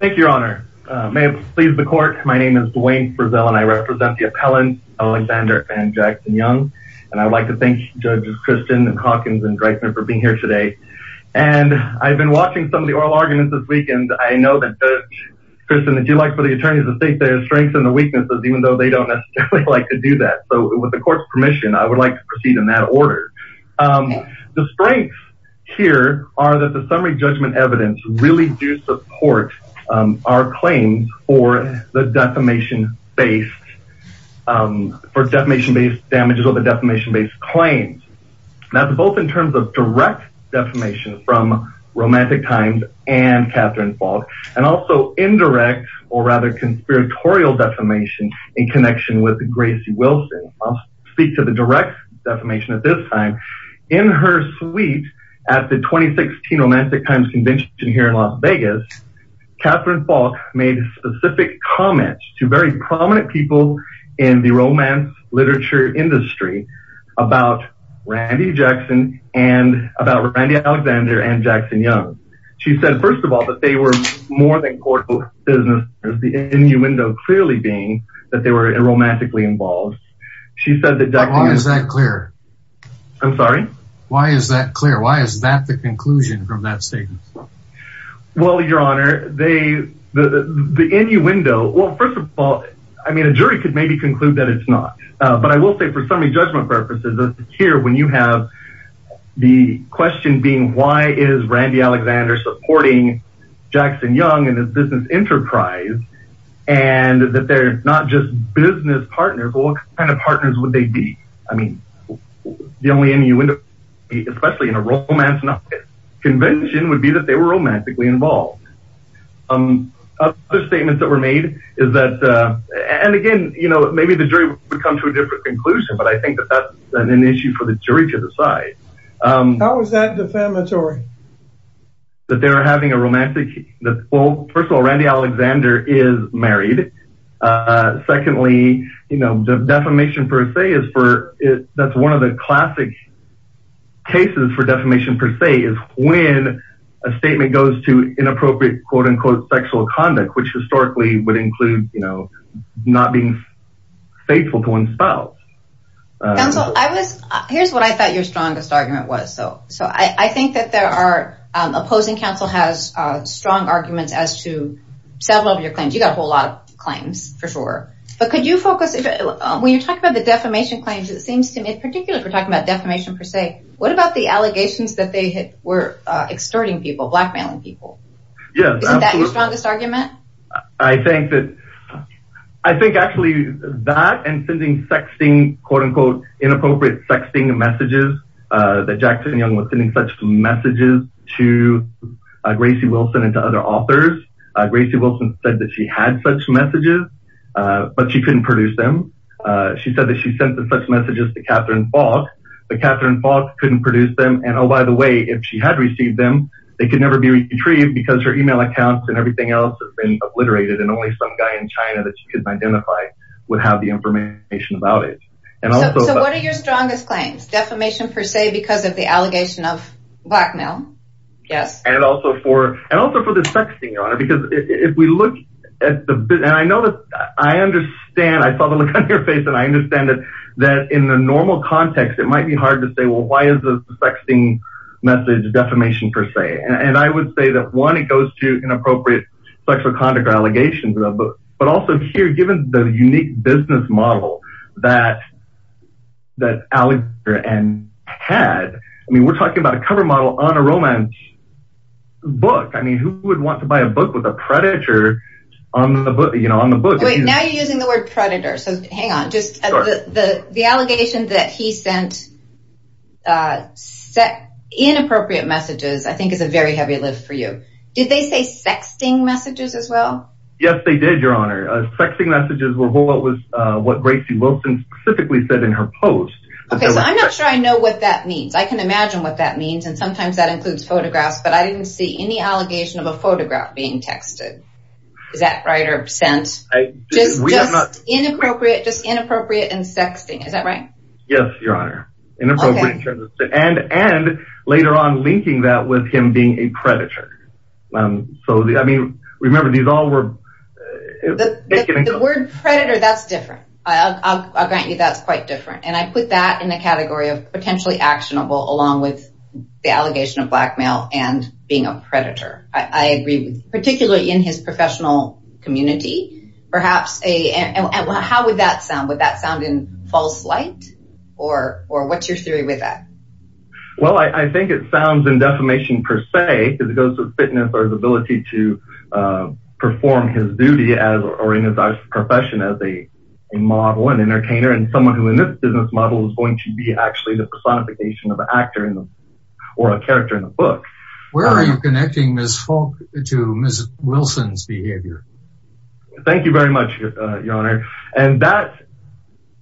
Thank you, your honor. May it please the court. My name is Dwayne Frizzell and I represent the appellants Alexander and Jackson Young. And I'd like to thank judges Christian and Calkins and Dreissner for being here today. And I've been watching some of the oral arguments this weekend. I know that, Kristen, if you'd like for the attorneys to state their strengths and the weaknesses, even though they don't necessarily like to do that. So with the court's permission, I would like to proceed in that order. The strengths here are that the summary judgment evidence really do support our claims for the defamation-based, for defamation-based damages or the defamation-based claims. Now both in terms of direct defamation from Romantic Times and Kathryn Falk, and also indirect or rather conspiratorial defamation in connection with Gracie Wilson. I'll speak to the direct defamation at this time. In her suite at the 2016 Romantic Times Convention here in Las Vegas, Kathryn Falk made specific comments to very prominent people in the romance literature industry about Randy Jackson and about Randy Alexander and Jackson Young. She said, first of all, that they were more than court businesses, the innuendo clearly being that they were romantically involved. She said that... Why is that clear? I'm sorry? Why is that clear? Why is that the conclusion from that statement? Well, Your Honor, the innuendo... Well, first of all, I mean, a jury could maybe conclude that it's not. But I will say for summary judgment purposes here, when you have the question being, why is Randy Alexander supporting Jackson Young and his business enterprise? And that they're not just business partners, but what kind of partners would they be? I mean, the only innuendo, especially in a romance novice convention, would be that they were romantically involved. Other statements that were made is that... And again, you know, maybe the jury would come to a different conclusion, but I think that that's an issue for the jury to decide. How is that defamatory? That they're having a romantic... Well, first of all, Randy Alexander is married. Secondly, you know, defamation per se is for... That's one of the classic cases for defamation per se is when a statement goes to inappropriate, quote unquote, sexual conduct, which historically would include, you know, not being faithful to one's spouse. Counsel, I was... Here's what I thought your strongest argument was. So I think that there are... Opposing counsel has strong arguments as to several of your claims. You got a whole lot of claims for sure. But could you focus... When you're talking about the defamation claims, it seems to me, particularly if we're talking about defamation per se, what about the allegations that they were extorting people, blackmailing people? Yeah. Isn't that your strongest argument? I think that... I think actually that and sending sexting, quote unquote, inappropriate sexting messages that Jackson Young was sending such messages to Gracie Wilson and to other authors. Gracie Wilson said that she had such messages, but she couldn't produce them. She said that she sent such messages to Catherine Fox, but Catherine Fox couldn't produce them. And oh, by the way, if she had received them, they could never be retrieved because her email accounts and everything else has been obliterated. And only some guy in China that you could identify would have the information about it. So what are your strongest claims? Defamation per se because of the allegation of blackmail? Yes. And also for the sexting, Your Honor, because if we look at the... And I know that I understand. I saw the look on your face and I understand that in the normal context, it might be hard to say, well, why is the sexting message defamation per se? And I would say that, one, it goes to inappropriate sexual conduct allegations. But also here, given the unique business model that Alexandra and Ted, I mean, we're talking about a cover model on a romance book. I mean, who would want to buy a book with a predator on the book? Wait, now you're using the word predator. So hang on. The allegation that he sent inappropriate messages, I think is a very heavy lift for you. Did they say sexting messages as Yes, they did, Your Honor. Sexting messages were what Gracie Wilson specifically said in her post. Okay, so I'm not sure I know what that means. I can imagine what that means. And sometimes that includes photographs, but I didn't see any allegation of a photograph being texted. Is that right or absent? Just inappropriate and sexting. Is that right? Yes, Your Honor. And later on linking that with him being a predator. So I mean, remember, these all were. The word predator, that's different. I'll grant you that's quite different. And I put that in the category of potentially actionable along with the allegation of blackmail and being a predator. I agree with particularly in his professional community, perhaps. How would that sound? Would that sound in false light? Or what's your theory with that? Well, I think it sounds in defamation per se, because it goes to fitness or the ability to perform his duty as or in his profession as a model and entertainer and someone who in this business model is going to be actually the personification of an actor or a character in a book. Where are you connecting Ms. Fulk to Ms. Wilson's behavior? Thank you very much, Your Honor. And that,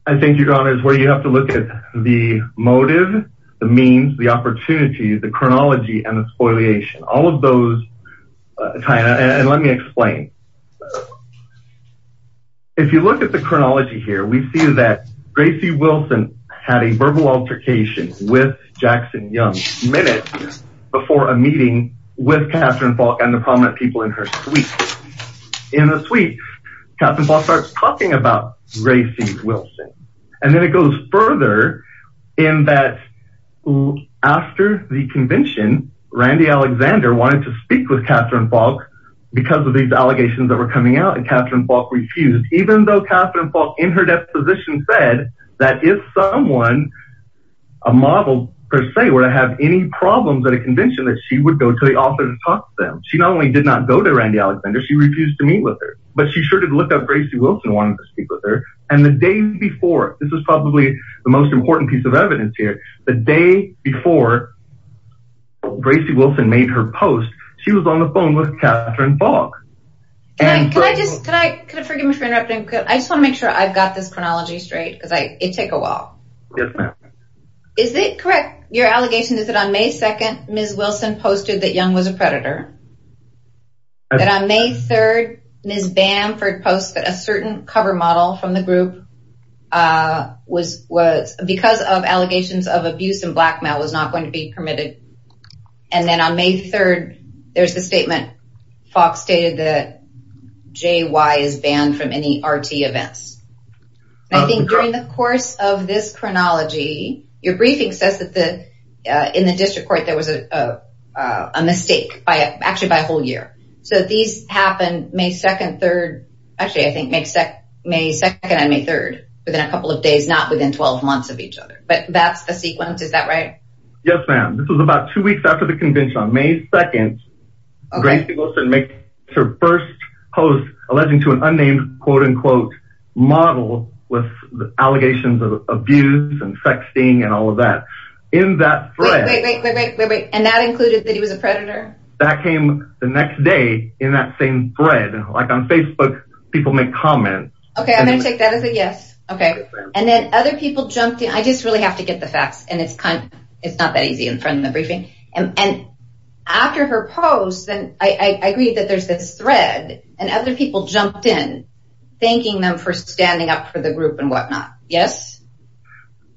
I think, Your Honor, is where you have to look at the motive, the means, the opportunity, the chronology and the spoliation. All of those tie in. And let me explain. If you look at the chronology here, we see that Gracie Wilson had a verbal altercation with Jackson Young minutes before a meeting with Catherine Fulk and the prominent people in her suite. In the suite, Catherine Fulk starts talking about Gracie Wilson. And then it goes further in that after the convention, Randy Alexander wanted to speak with Catherine Fulk because of these allegations that were coming out and Catherine Fulk refused, even though Catherine Fulk in her deposition said that if someone, a model per se, were to have any problems at a convention that she would go to the author to talk to them. She not only did not go to Alexander, she refused to meet with her. But she sure did look up Gracie Wilson wanted to speak with her. And the day before, this is probably the most important piece of evidence here. The day before Gracie Wilson made her post, she was on the phone with Catherine Fulk. Can I just, can I, could you forgive me for interrupting? I just want to make sure I've got this chronology straight because it took a while. Yes, ma'am. Is it correct, your allegation is that May 2nd, Ms. Wilson posted that Young was a predator. That on May 3rd, Ms. Bamford posted that a certain cover model from the group was, because of allegations of abuse and blackmail, was not going to be permitted. And then on May 3rd, there's the statement Fulk stated that JY is banned from any RT events. I think during the course of this chronology, your briefing says that in the district court, there was a mistake by actually by a whole year. So these happened May 2nd, 3rd. Actually, I think May 2nd and May 3rd within a couple of days, not within 12 months of each other. But that's the sequence. Is that right? Yes, ma'am. This was about two weeks after the convention on May 2nd. Gracie Wilson made her first post alleging to an and all of that. And that included that he was a predator. That came the next day in that same thread. And like on Facebook, people make comments. Okay, I'm going to take that as a yes. Okay. And then other people jumped in. I just really have to get the facts. And it's kind of, it's not that easy in front of the briefing. And after her post, and I agree that there's this thread and other people jumped in, thanking them for standing up for the group and whatnot. Yes.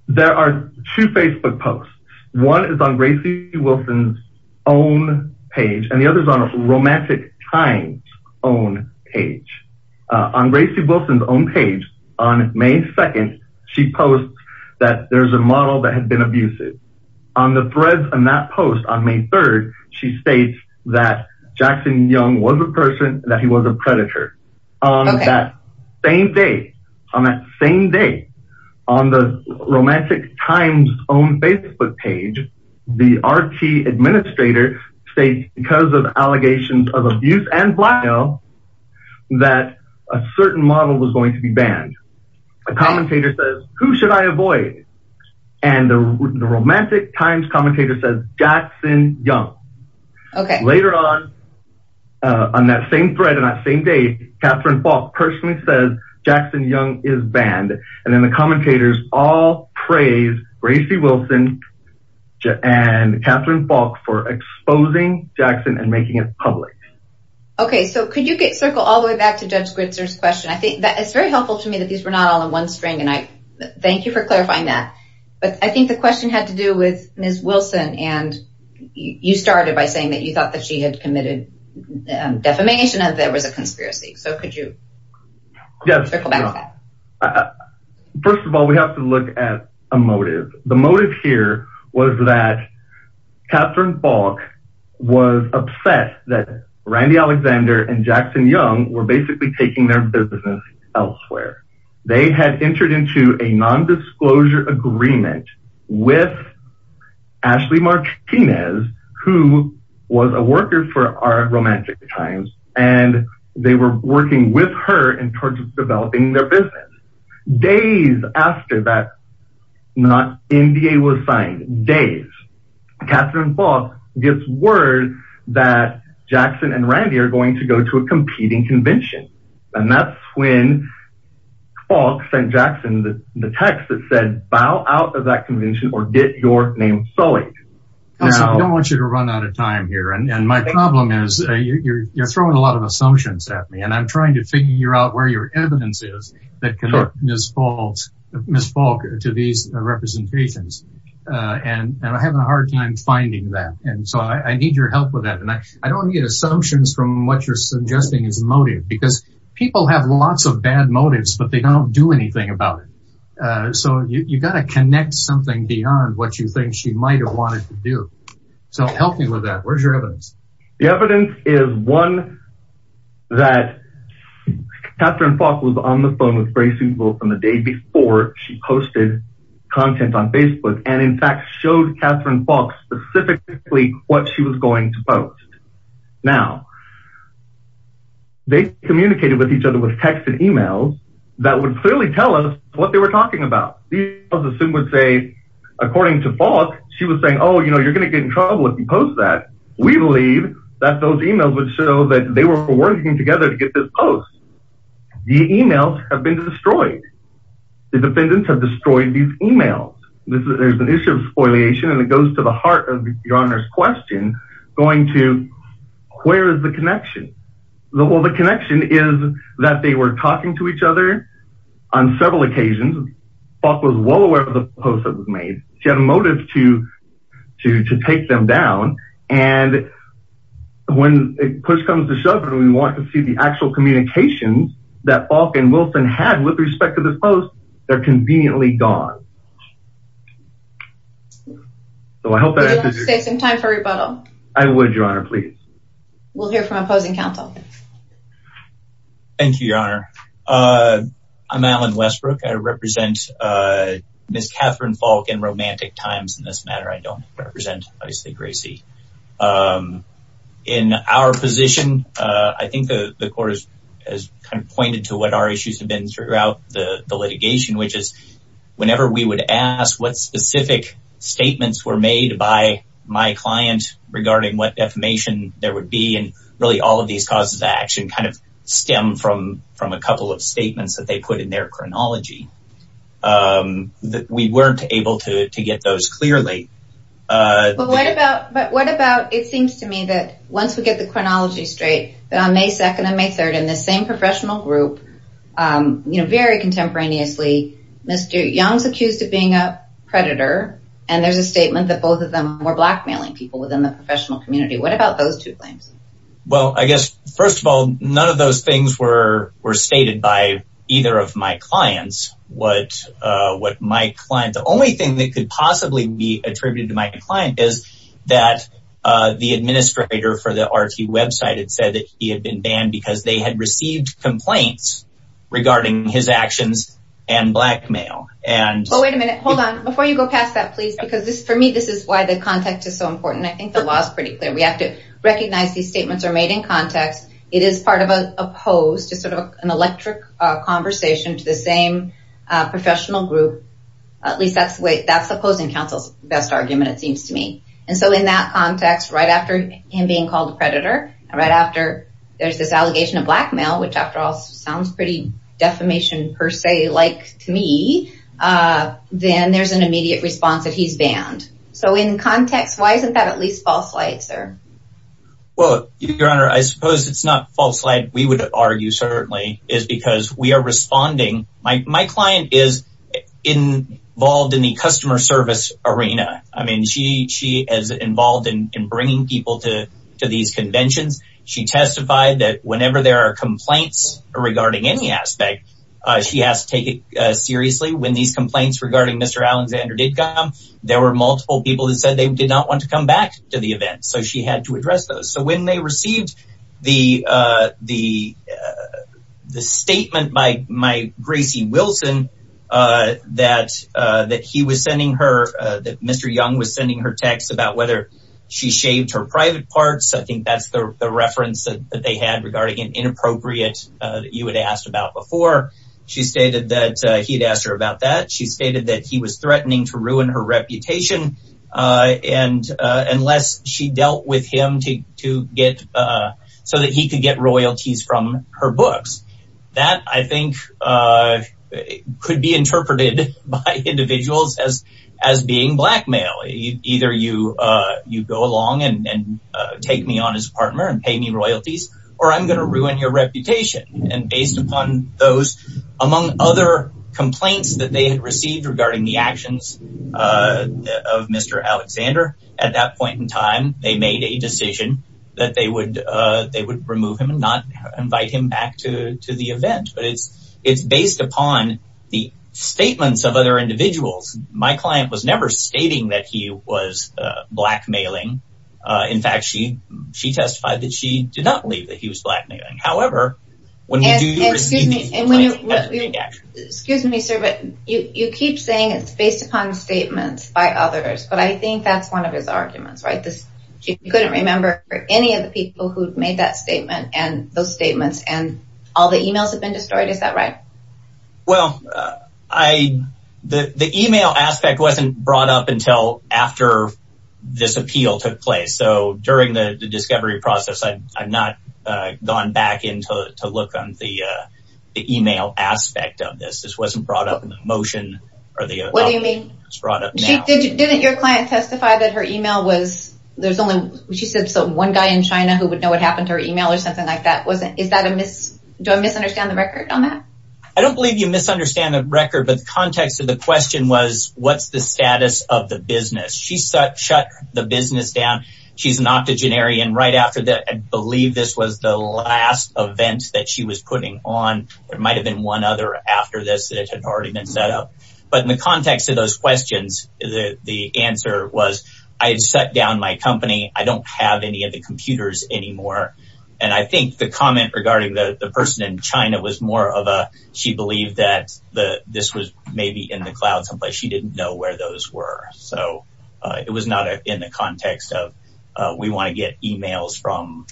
There are two Facebook posts. One is on Gracie Wilson's own page and the other is on a Romantic Times own page. On Gracie Wilson's own page on May 2nd, she posts that there's a model that had been abusive on the threads and that post on May 3rd. She states that Jackson Young was a person that he was a predator. On that same day, on that same day, on the Romantic Times own Facebook page, the RT administrator states because of allegations of abuse and blackmail, that a certain model was going to be banned. A commentator says, who should I avoid? And the on that same thread on that same day, Catherine Falk personally says Jackson Young is banned. And then the commentators all praise Gracie Wilson and Catherine Falk for exposing Jackson and making it public. Okay. So could you get circle all the way back to Judge Gritzer's question? I think that it's very helpful to me that these were not all in one string. And I thank you for clarifying that. But I think the question had to do with Ms. Wilson and you started by saying that you thought that she had committed defamation and there was a conspiracy. So could you circle back to that? First of all, we have to look at a motive. The motive here was that Catherine Falk was obsessed that Randy Alexander and Jackson Young were basically taking their business elsewhere. They had entered into a nondisclosure agreement with Ashley Martinez, who was a worker for our Romantic Times. And they were working with her in terms of developing their business. Days after that, not NDA was signed days. Catherine Falk gets word that Jackson and Randy are going to go to a competing convention. And that's when Falk sent Jackson the text that said, bow out of that convention or get your name sullied. I don't want you to run out of time here. And my problem is, you're throwing a lot of assumptions at me. And I'm trying to figure out where your evidence is that connects Ms. Falk to these representations. And I'm having a hard time finding that. And so I need your help with that. And I don't need assumptions from what you're suggesting is motive because people have lots of bad motives, but they don't do anything about it. So you got to connect something beyond what you think she might have wanted to do. So help me with that. Where's your evidence? The evidence is one that Catherine Falk was on the phone with Grace Seussville from the day before she posted content on Facebook, and in fact, showed Catherine Falk specifically what she was going to post. Now, they communicated with each other with text and emails that would clearly tell us what they were talking about. These emails would say, according to Falk, she was saying, oh, you know, you're going to get in trouble if you post that. We believe that those emails would show that they were working together to get this post. The emails have been destroyed. The defendants have destroyed these emails. There's an issue of spoiliation, and it goes to the heart of your honor's question, going to where is the connection? Well, the connection is that they were talking to each other on several occasions. Falk was well aware of the post that was made. She had a motive to take them down. And when push comes to shove, and we want to see the actual communications that Falk and Wilson had with respect to the post, they're conveniently gone. So I hope that answers your question. Do you want to save some time for rebuttal? I would, your honor, please. We'll hear from opposing counsel. Thank you, your honor. I'm Alan Westbrook. I represent Ms. Catherine Falk in Romantic Times. In this matter, I don't represent, obviously, Gracie. In our position, I think the court has kind of pointed to what our issues have been throughout the litigation, which is whenever we would ask what specific statements were made by my client regarding what defamation there would be, and really all of these causes of action kind of stem from a couple of statements that they put in their chronology. We weren't able to get those clearly. But what about, it seems to me that once we get the chronology straight, that on May 2nd and May 3rd, in this same professional group, very contemporaneously, Mr. Young's accused of being a predator, and there's a statement that both of them were blackmailing people within the professional community. What about those two claims? Well, I guess, first of all, none of those things were stated by either of my clients. The only thing that could possibly be attributed to my client is that the administrator for the company had been banned because they had received complaints regarding his actions and blackmail. Well, wait a minute. Hold on. Before you go past that, please, because for me, this is why the context is so important. I think the law is pretty clear. We have to recognize these statements are made in context. It is part of an opposed, just sort of an electric conversation to the same professional group. At least that's the opposing counsel's best argument, it seems to me. In that context, right after him being called a predator, there's this allegation of blackmail, which, after all, sounds pretty defamation, per se, like to me, then there's an immediate response that he's banned. So, in context, why isn't that at least false light, sir? Well, Your Honor, I suppose it's not false light, we would argue, certainly, is because we are responding. My client is involved in the customer service arena. I mean, she is involved in bringing people to these conventions. She testified that whenever there are complaints regarding any aspect, she has to take it seriously. When these complaints regarding Mr. Alexander did come, there were multiple people who said they did not want to come back to the event, so she had to address those. So, when they received the statement by that Mr. Young was sending her texts about whether she shaved her private parts, I think that's the reference that they had regarding an inappropriate that you had asked about before. She stated that he had asked her about that. She stated that he was threatening to ruin her reputation, unless she dealt with him so that he could get royalties from her books. That, I think, could be interpreted by individuals as being blackmail. Either you go along and take me on as a partner and pay me royalties, or I'm going to ruin your reputation. And based upon those, among other complaints that they had received regarding the actions of Mr. Alexander, at that point in time, they made a decision that they would remove him and not invite him back to the event. Based upon the statements of other individuals, my client was never stating that he was blackmailing. In fact, she testified that she did not believe that he was blackmailing. However, excuse me, sir, but you keep saying it's based upon statements by others, but I think that's one of his arguments, right? You couldn't remember any of the people who made that statement and those statements, and all the emails have been destroyed. Is that right? Well, the email aspect wasn't brought up until after this appeal took place. So, during the discovery process, I've not gone back in to look on the email aspect of this. This wasn't brought up in the motion. What do you mean? Didn't your client testify that her email was, there's only one guy in China who would know what happened to her email or something like that? Do I misunderstand the record on that? I don't believe you misunderstand the record. But the context of the question was, what's the status of the business? She shut the business down. She's an octogenarian. Right after that, I believe this was the last event that she was putting on. There might have been one other after this that had already been set up. But in the company, I don't have any of the computers anymore. And I think the comment regarding the person in China was more of a, she believed that this was maybe in the cloud someplace. She didn't know where those were. So, it was not in the context of we want to get emails from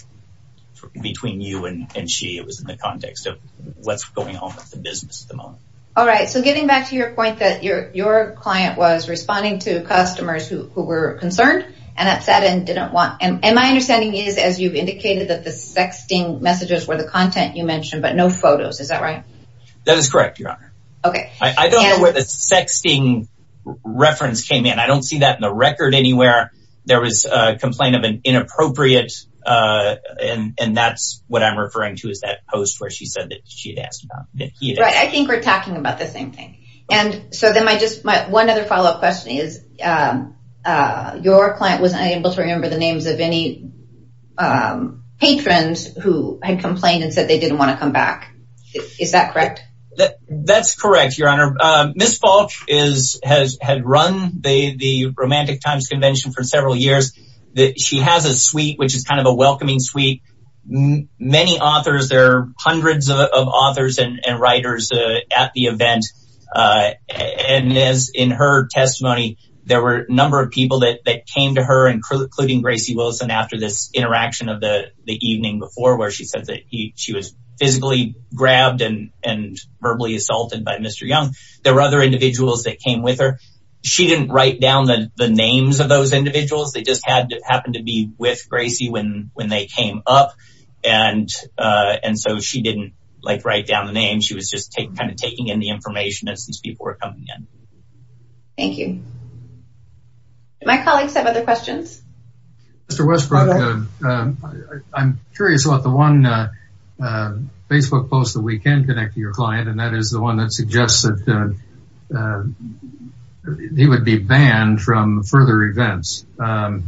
between you and she. It was in the context of what's going on with the business at the moment. All right. So, getting back to your point that your client was responding to customers who were concerned and upset and didn't want. And my understanding is, as you've indicated, that the sexting messages were the content you mentioned, but no photos. Is that right? That is correct, Your Honor. I don't know where the sexting reference came in. I don't see that in the record anywhere. There was a complaint of an inappropriate, and that's what I'm referring to is that post where she said that she had asked about. I think we're talking about the same thing. And so, one other follow-up question is, your client wasn't able to remember the names of any patrons who had complained and said they didn't want to come back. Is that correct? That's correct, Your Honor. Ms. Falk had run the Romantic Times Convention for several years. She has a suite, which is kind of a welcoming suite. Many authors, there are hundreds of authors and writers at the event. And in her testimony, there were a number of people that came to her, including Gracie Wilson, after this interaction of the evening before where she said that she was physically grabbed and verbally assaulted by Mr. Young. There were other individuals that came with her. She didn't write down the names of those individuals. They just happened to be with Gracie when they came up. And so, she didn't write down the names. She was just kind of taking in the information as these people were coming in. Thank you. My colleagues have other questions. Mr. Westbrook, I'm curious about the one Facebook post that we can connect to your client, and that is the one that suggests that he would be banned from further events. Now,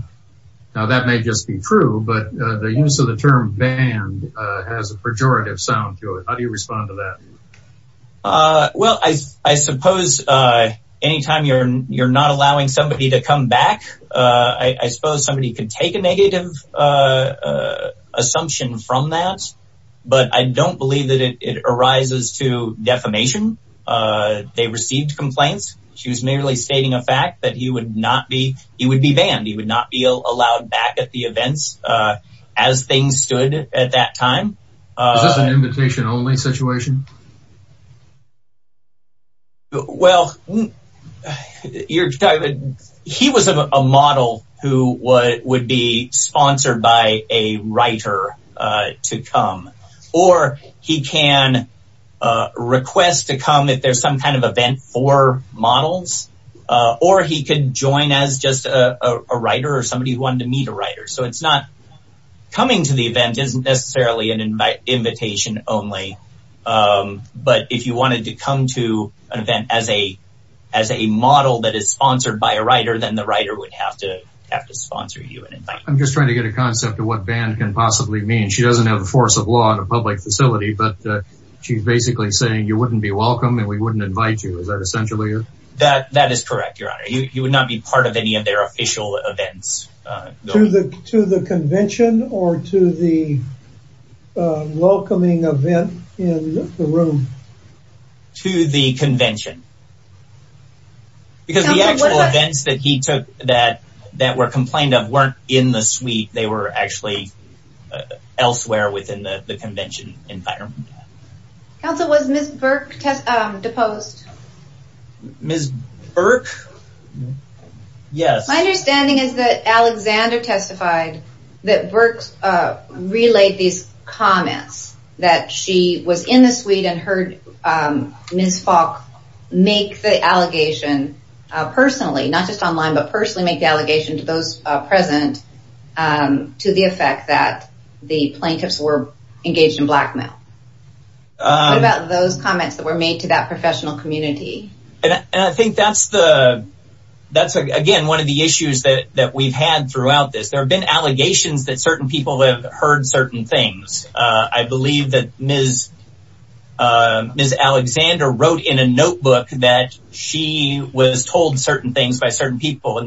that may just be true, but the use of the term banned has a pejorative sound to it. How do you respond to that? Well, I suppose anytime you're not allowing somebody to come back, I suppose somebody can take a negative assumption from that. But I don't believe that it arises to defamation. They received complaints. She was merely stating a fact that he would be banned. He would not be allowed back at the events as things stood at that time. Is this an invitation-only situation? Well, he was a model who would be sponsored by a writer to come, or he can request to come if some kind of event for models, or he could join as just a writer or somebody who wanted to meet a writer. So coming to the event isn't necessarily an invitation only. But if you wanted to come to an event as a model that is sponsored by a writer, then the writer would have to sponsor you. I'm just trying to get a concept of what banned can possibly mean. She doesn't have the force of a public facility, but she's basically saying you wouldn't be welcome and we wouldn't invite you. Is that essentially it? That is correct, Your Honor. You would not be part of any of their official events. To the convention or to the welcoming event in the room? To the convention. Because the actual events that he took that were complained of weren't in the suite. They were actually elsewhere within the convention environment. Counsel, was Ms. Burke deposed? Ms. Burke? Yes. My understanding is that Alexander testified that Burke relayed these comments that she was in the suite and heard Ms. Falk make the allegation personally, not just online, but personally make the allegation to those present to the effect that the plaintiffs were engaged in blackmail. What about those comments that were made to that professional community? And I think that's again one of the issues that we've had throughout this. There have been allegations that certain people have heard certain things. I believe that Ms. Alexander wrote in a and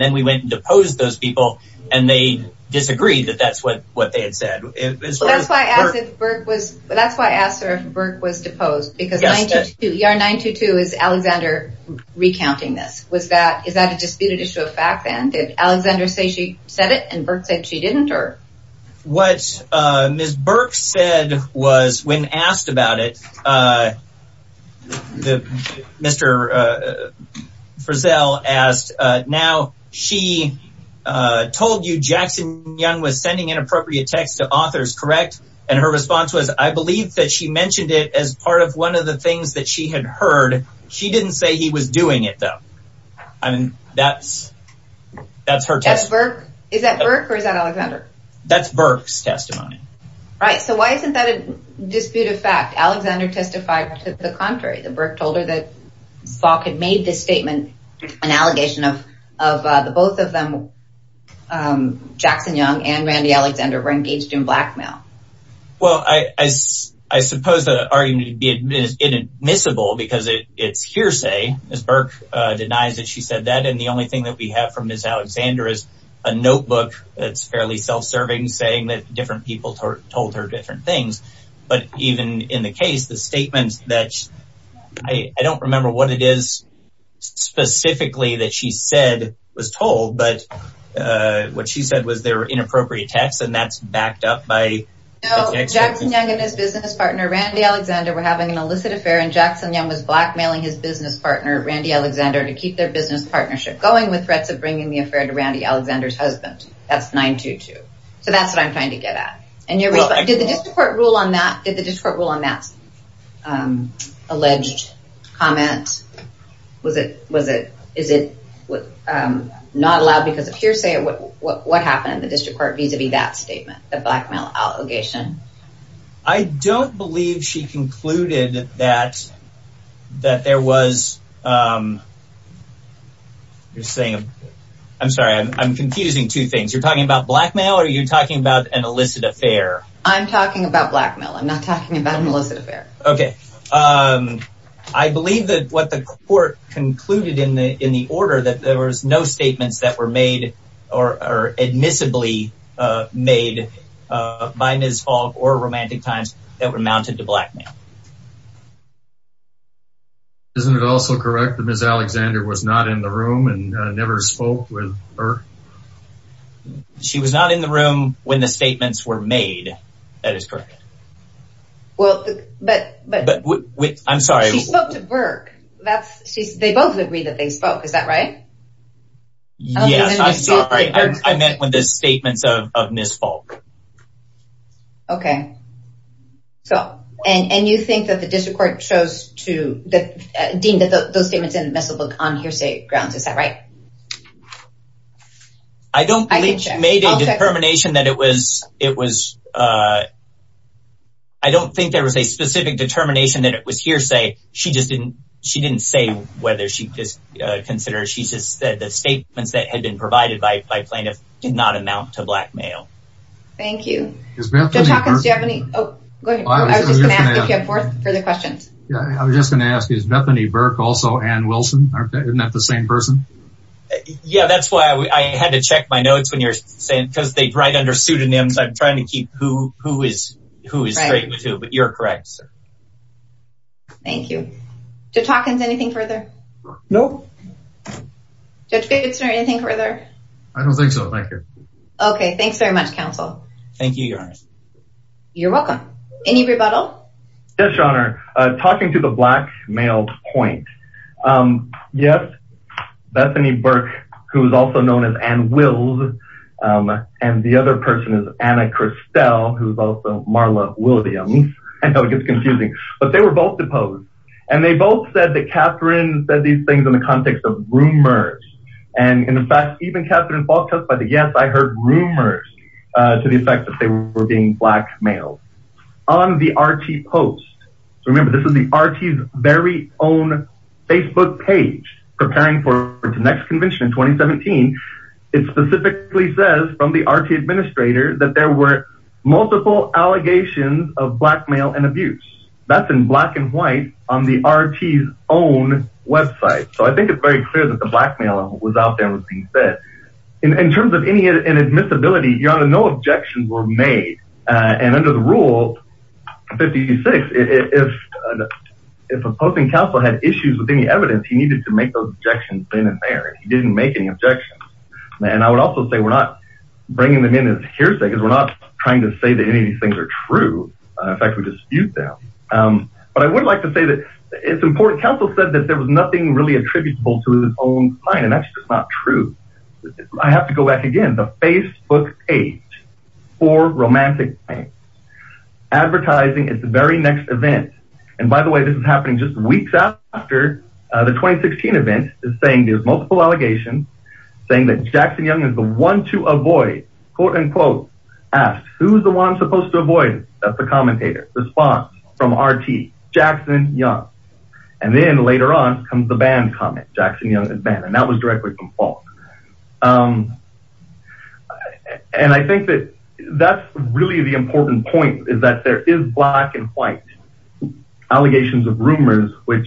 then we went and deposed those people and they disagreed that that's what they had said. That's why I asked her if Burke was deposed because 922 is Alexander recounting this. Is that a disputed issue of fact then? Did Alexander say she said it and Burke said she she told you Jackson Young was sending inappropriate text to authors, correct? And her response was, I believe that she mentioned it as part of one of the things that she had heard. She didn't say he was doing it though. I mean, that's that's her test. Is that Burke or is that Alexander? That's Burke's testimony. Right. So why isn't that a dispute of fact? Alexander testified to the contrary. Burke told that Spock had made this statement, an allegation of the both of them, Jackson Young and Randy Alexander were engaged in blackmail. Well, I suppose that argument is inadmissible because it's hearsay. Ms. Burke denies that she said that. And the only thing that we have from Ms. Alexander is a notebook that's fairly self-serving, saying that different people told her different things. But even in the case, the statements that I don't remember what it is specifically that she said was told. But what she said was there were inappropriate texts and that's backed up by Jackson Young and his business partner, Randy Alexander, were having an illicit affair and Jackson Young was blackmailing his business partner, Randy Alexander, to keep their business partnership going with threats of bringing the affair to Randy Alexander's husband. That's 922. So that's what I'm trying to get at. Did the district court rule on that alleged comment? Is it not allowed because of hearsay? What happened in the district court vis-a-vis that statement, the blackmail allegation? I don't believe she concluded that there was, um, you're saying, I'm sorry, I'm confusing two things. You're talking about blackmail or you're talking about an illicit affair? I'm talking about blackmail. I'm not talking about an illicit affair. Okay. Um, I believe that what the court concluded in the, in the order that there was no statements that were made or are admissibly, uh, made, uh, by Ms. Fogg or Romantic Times that were mounted to blackmail. Isn't it also correct that Ms. Alexander was not in the room and never spoke with her? She was not in the room when the statements were made. That is correct. Well, but, but I'm sorry. She spoke to Burke. That's she's, they both agree that they were made by Ms. Fogg. Okay. So, and, and you think that the district court chose to deem those statements admissible on hearsay grounds? Is that right? I don't believe she made a determination that it was, it was, uh, I don't think there was a specific determination that it was hearsay. She just didn't, she didn't say whether she just, uh, considered, she just said the statements that had been provided by plaintiff did not amount to blackmail. Thank you. Judge Hawkins, do you have any, oh, go ahead. I was just going to ask if you have further questions. Yeah. I was just going to ask, is Bethany Burke also Ann Wilson? Aren't they, isn't that the same person? Yeah. That's why I had to check my notes when you're saying, because they write under pseudonyms. I'm trying to keep who, who is, who is straight with who, but you're correct, sir. Thank you. Judge Hawkins, anything further? No. Judge Davidson, anything further? I don't think so. Thank you. Okay. Thanks very much. Council. Thank you, your honor. You're welcome. Any rebuttal? Yes, your honor. Uh, talking to the black mailed point. Um, yes, Bethany Burke, who's also known as Ann Wills. Um, and the other person is Anna Christelle, who's also Marla Williams. I know it gets confusing, but they were both deposed and they both said that Catherine said these things in the context of rumors. And in fact, even Catherine Falk took by the yes, I heard rumors, uh, to the effect that they were being blackmailed on the RT post. So remember this is the RT very own Facebook page preparing for the next convention in 2017. It specifically says from the RT administrator that there were multiple allegations of blackmail and abuse that's in black and white on the RT's own website. So I think it's very clear that the blackmail was out there and was being fed in terms of any inadmissibility. Your honor, no objections were made. Uh, and under the rule 56, if, if a posting council had issues with any evidence, he needed to make those objections then and there, he didn't make any objections. And I would also say, we're not bringing them in as hearsay because we're not trying to say that any of these things are true. In fact, we dispute them. Um, but I would like to say that it's important. Council said that there was nothing really attributable to his own client. And that's just not true. I have to go back again, the Facebook page for romantic advertising is the very next event. And by the way, this is happening just weeks after the 2016 event is saying there's multiple allegations saying that asked who's the one supposed to avoid it? That's the commentator response from Rt Jackson Young. And then later on comes the band comment, Jackson Young and band. And that was directly from Paul. Um, and I think that that's really the important point is that there is black and white allegations of rumors, which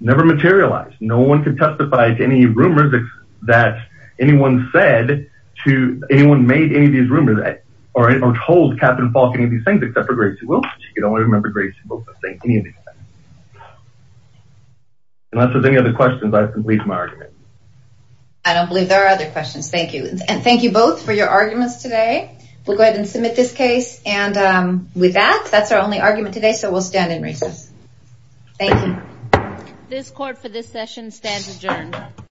never materialized. No one could testify to any rumors that anyone said to anyone made any of these rumors or told Captain Paul, any of these things, except for Gracie Wilson. You don't want to remember Gracie Wilson saying anything. Unless there's any other questions, I've completed my argument. I don't believe there are other questions. Thank you. And thank you both for your arguments today. We'll go ahead and submit this case. And with that, that's our only argument today. So we'll stand in recess. Thank you. This court for this session stands adjourned.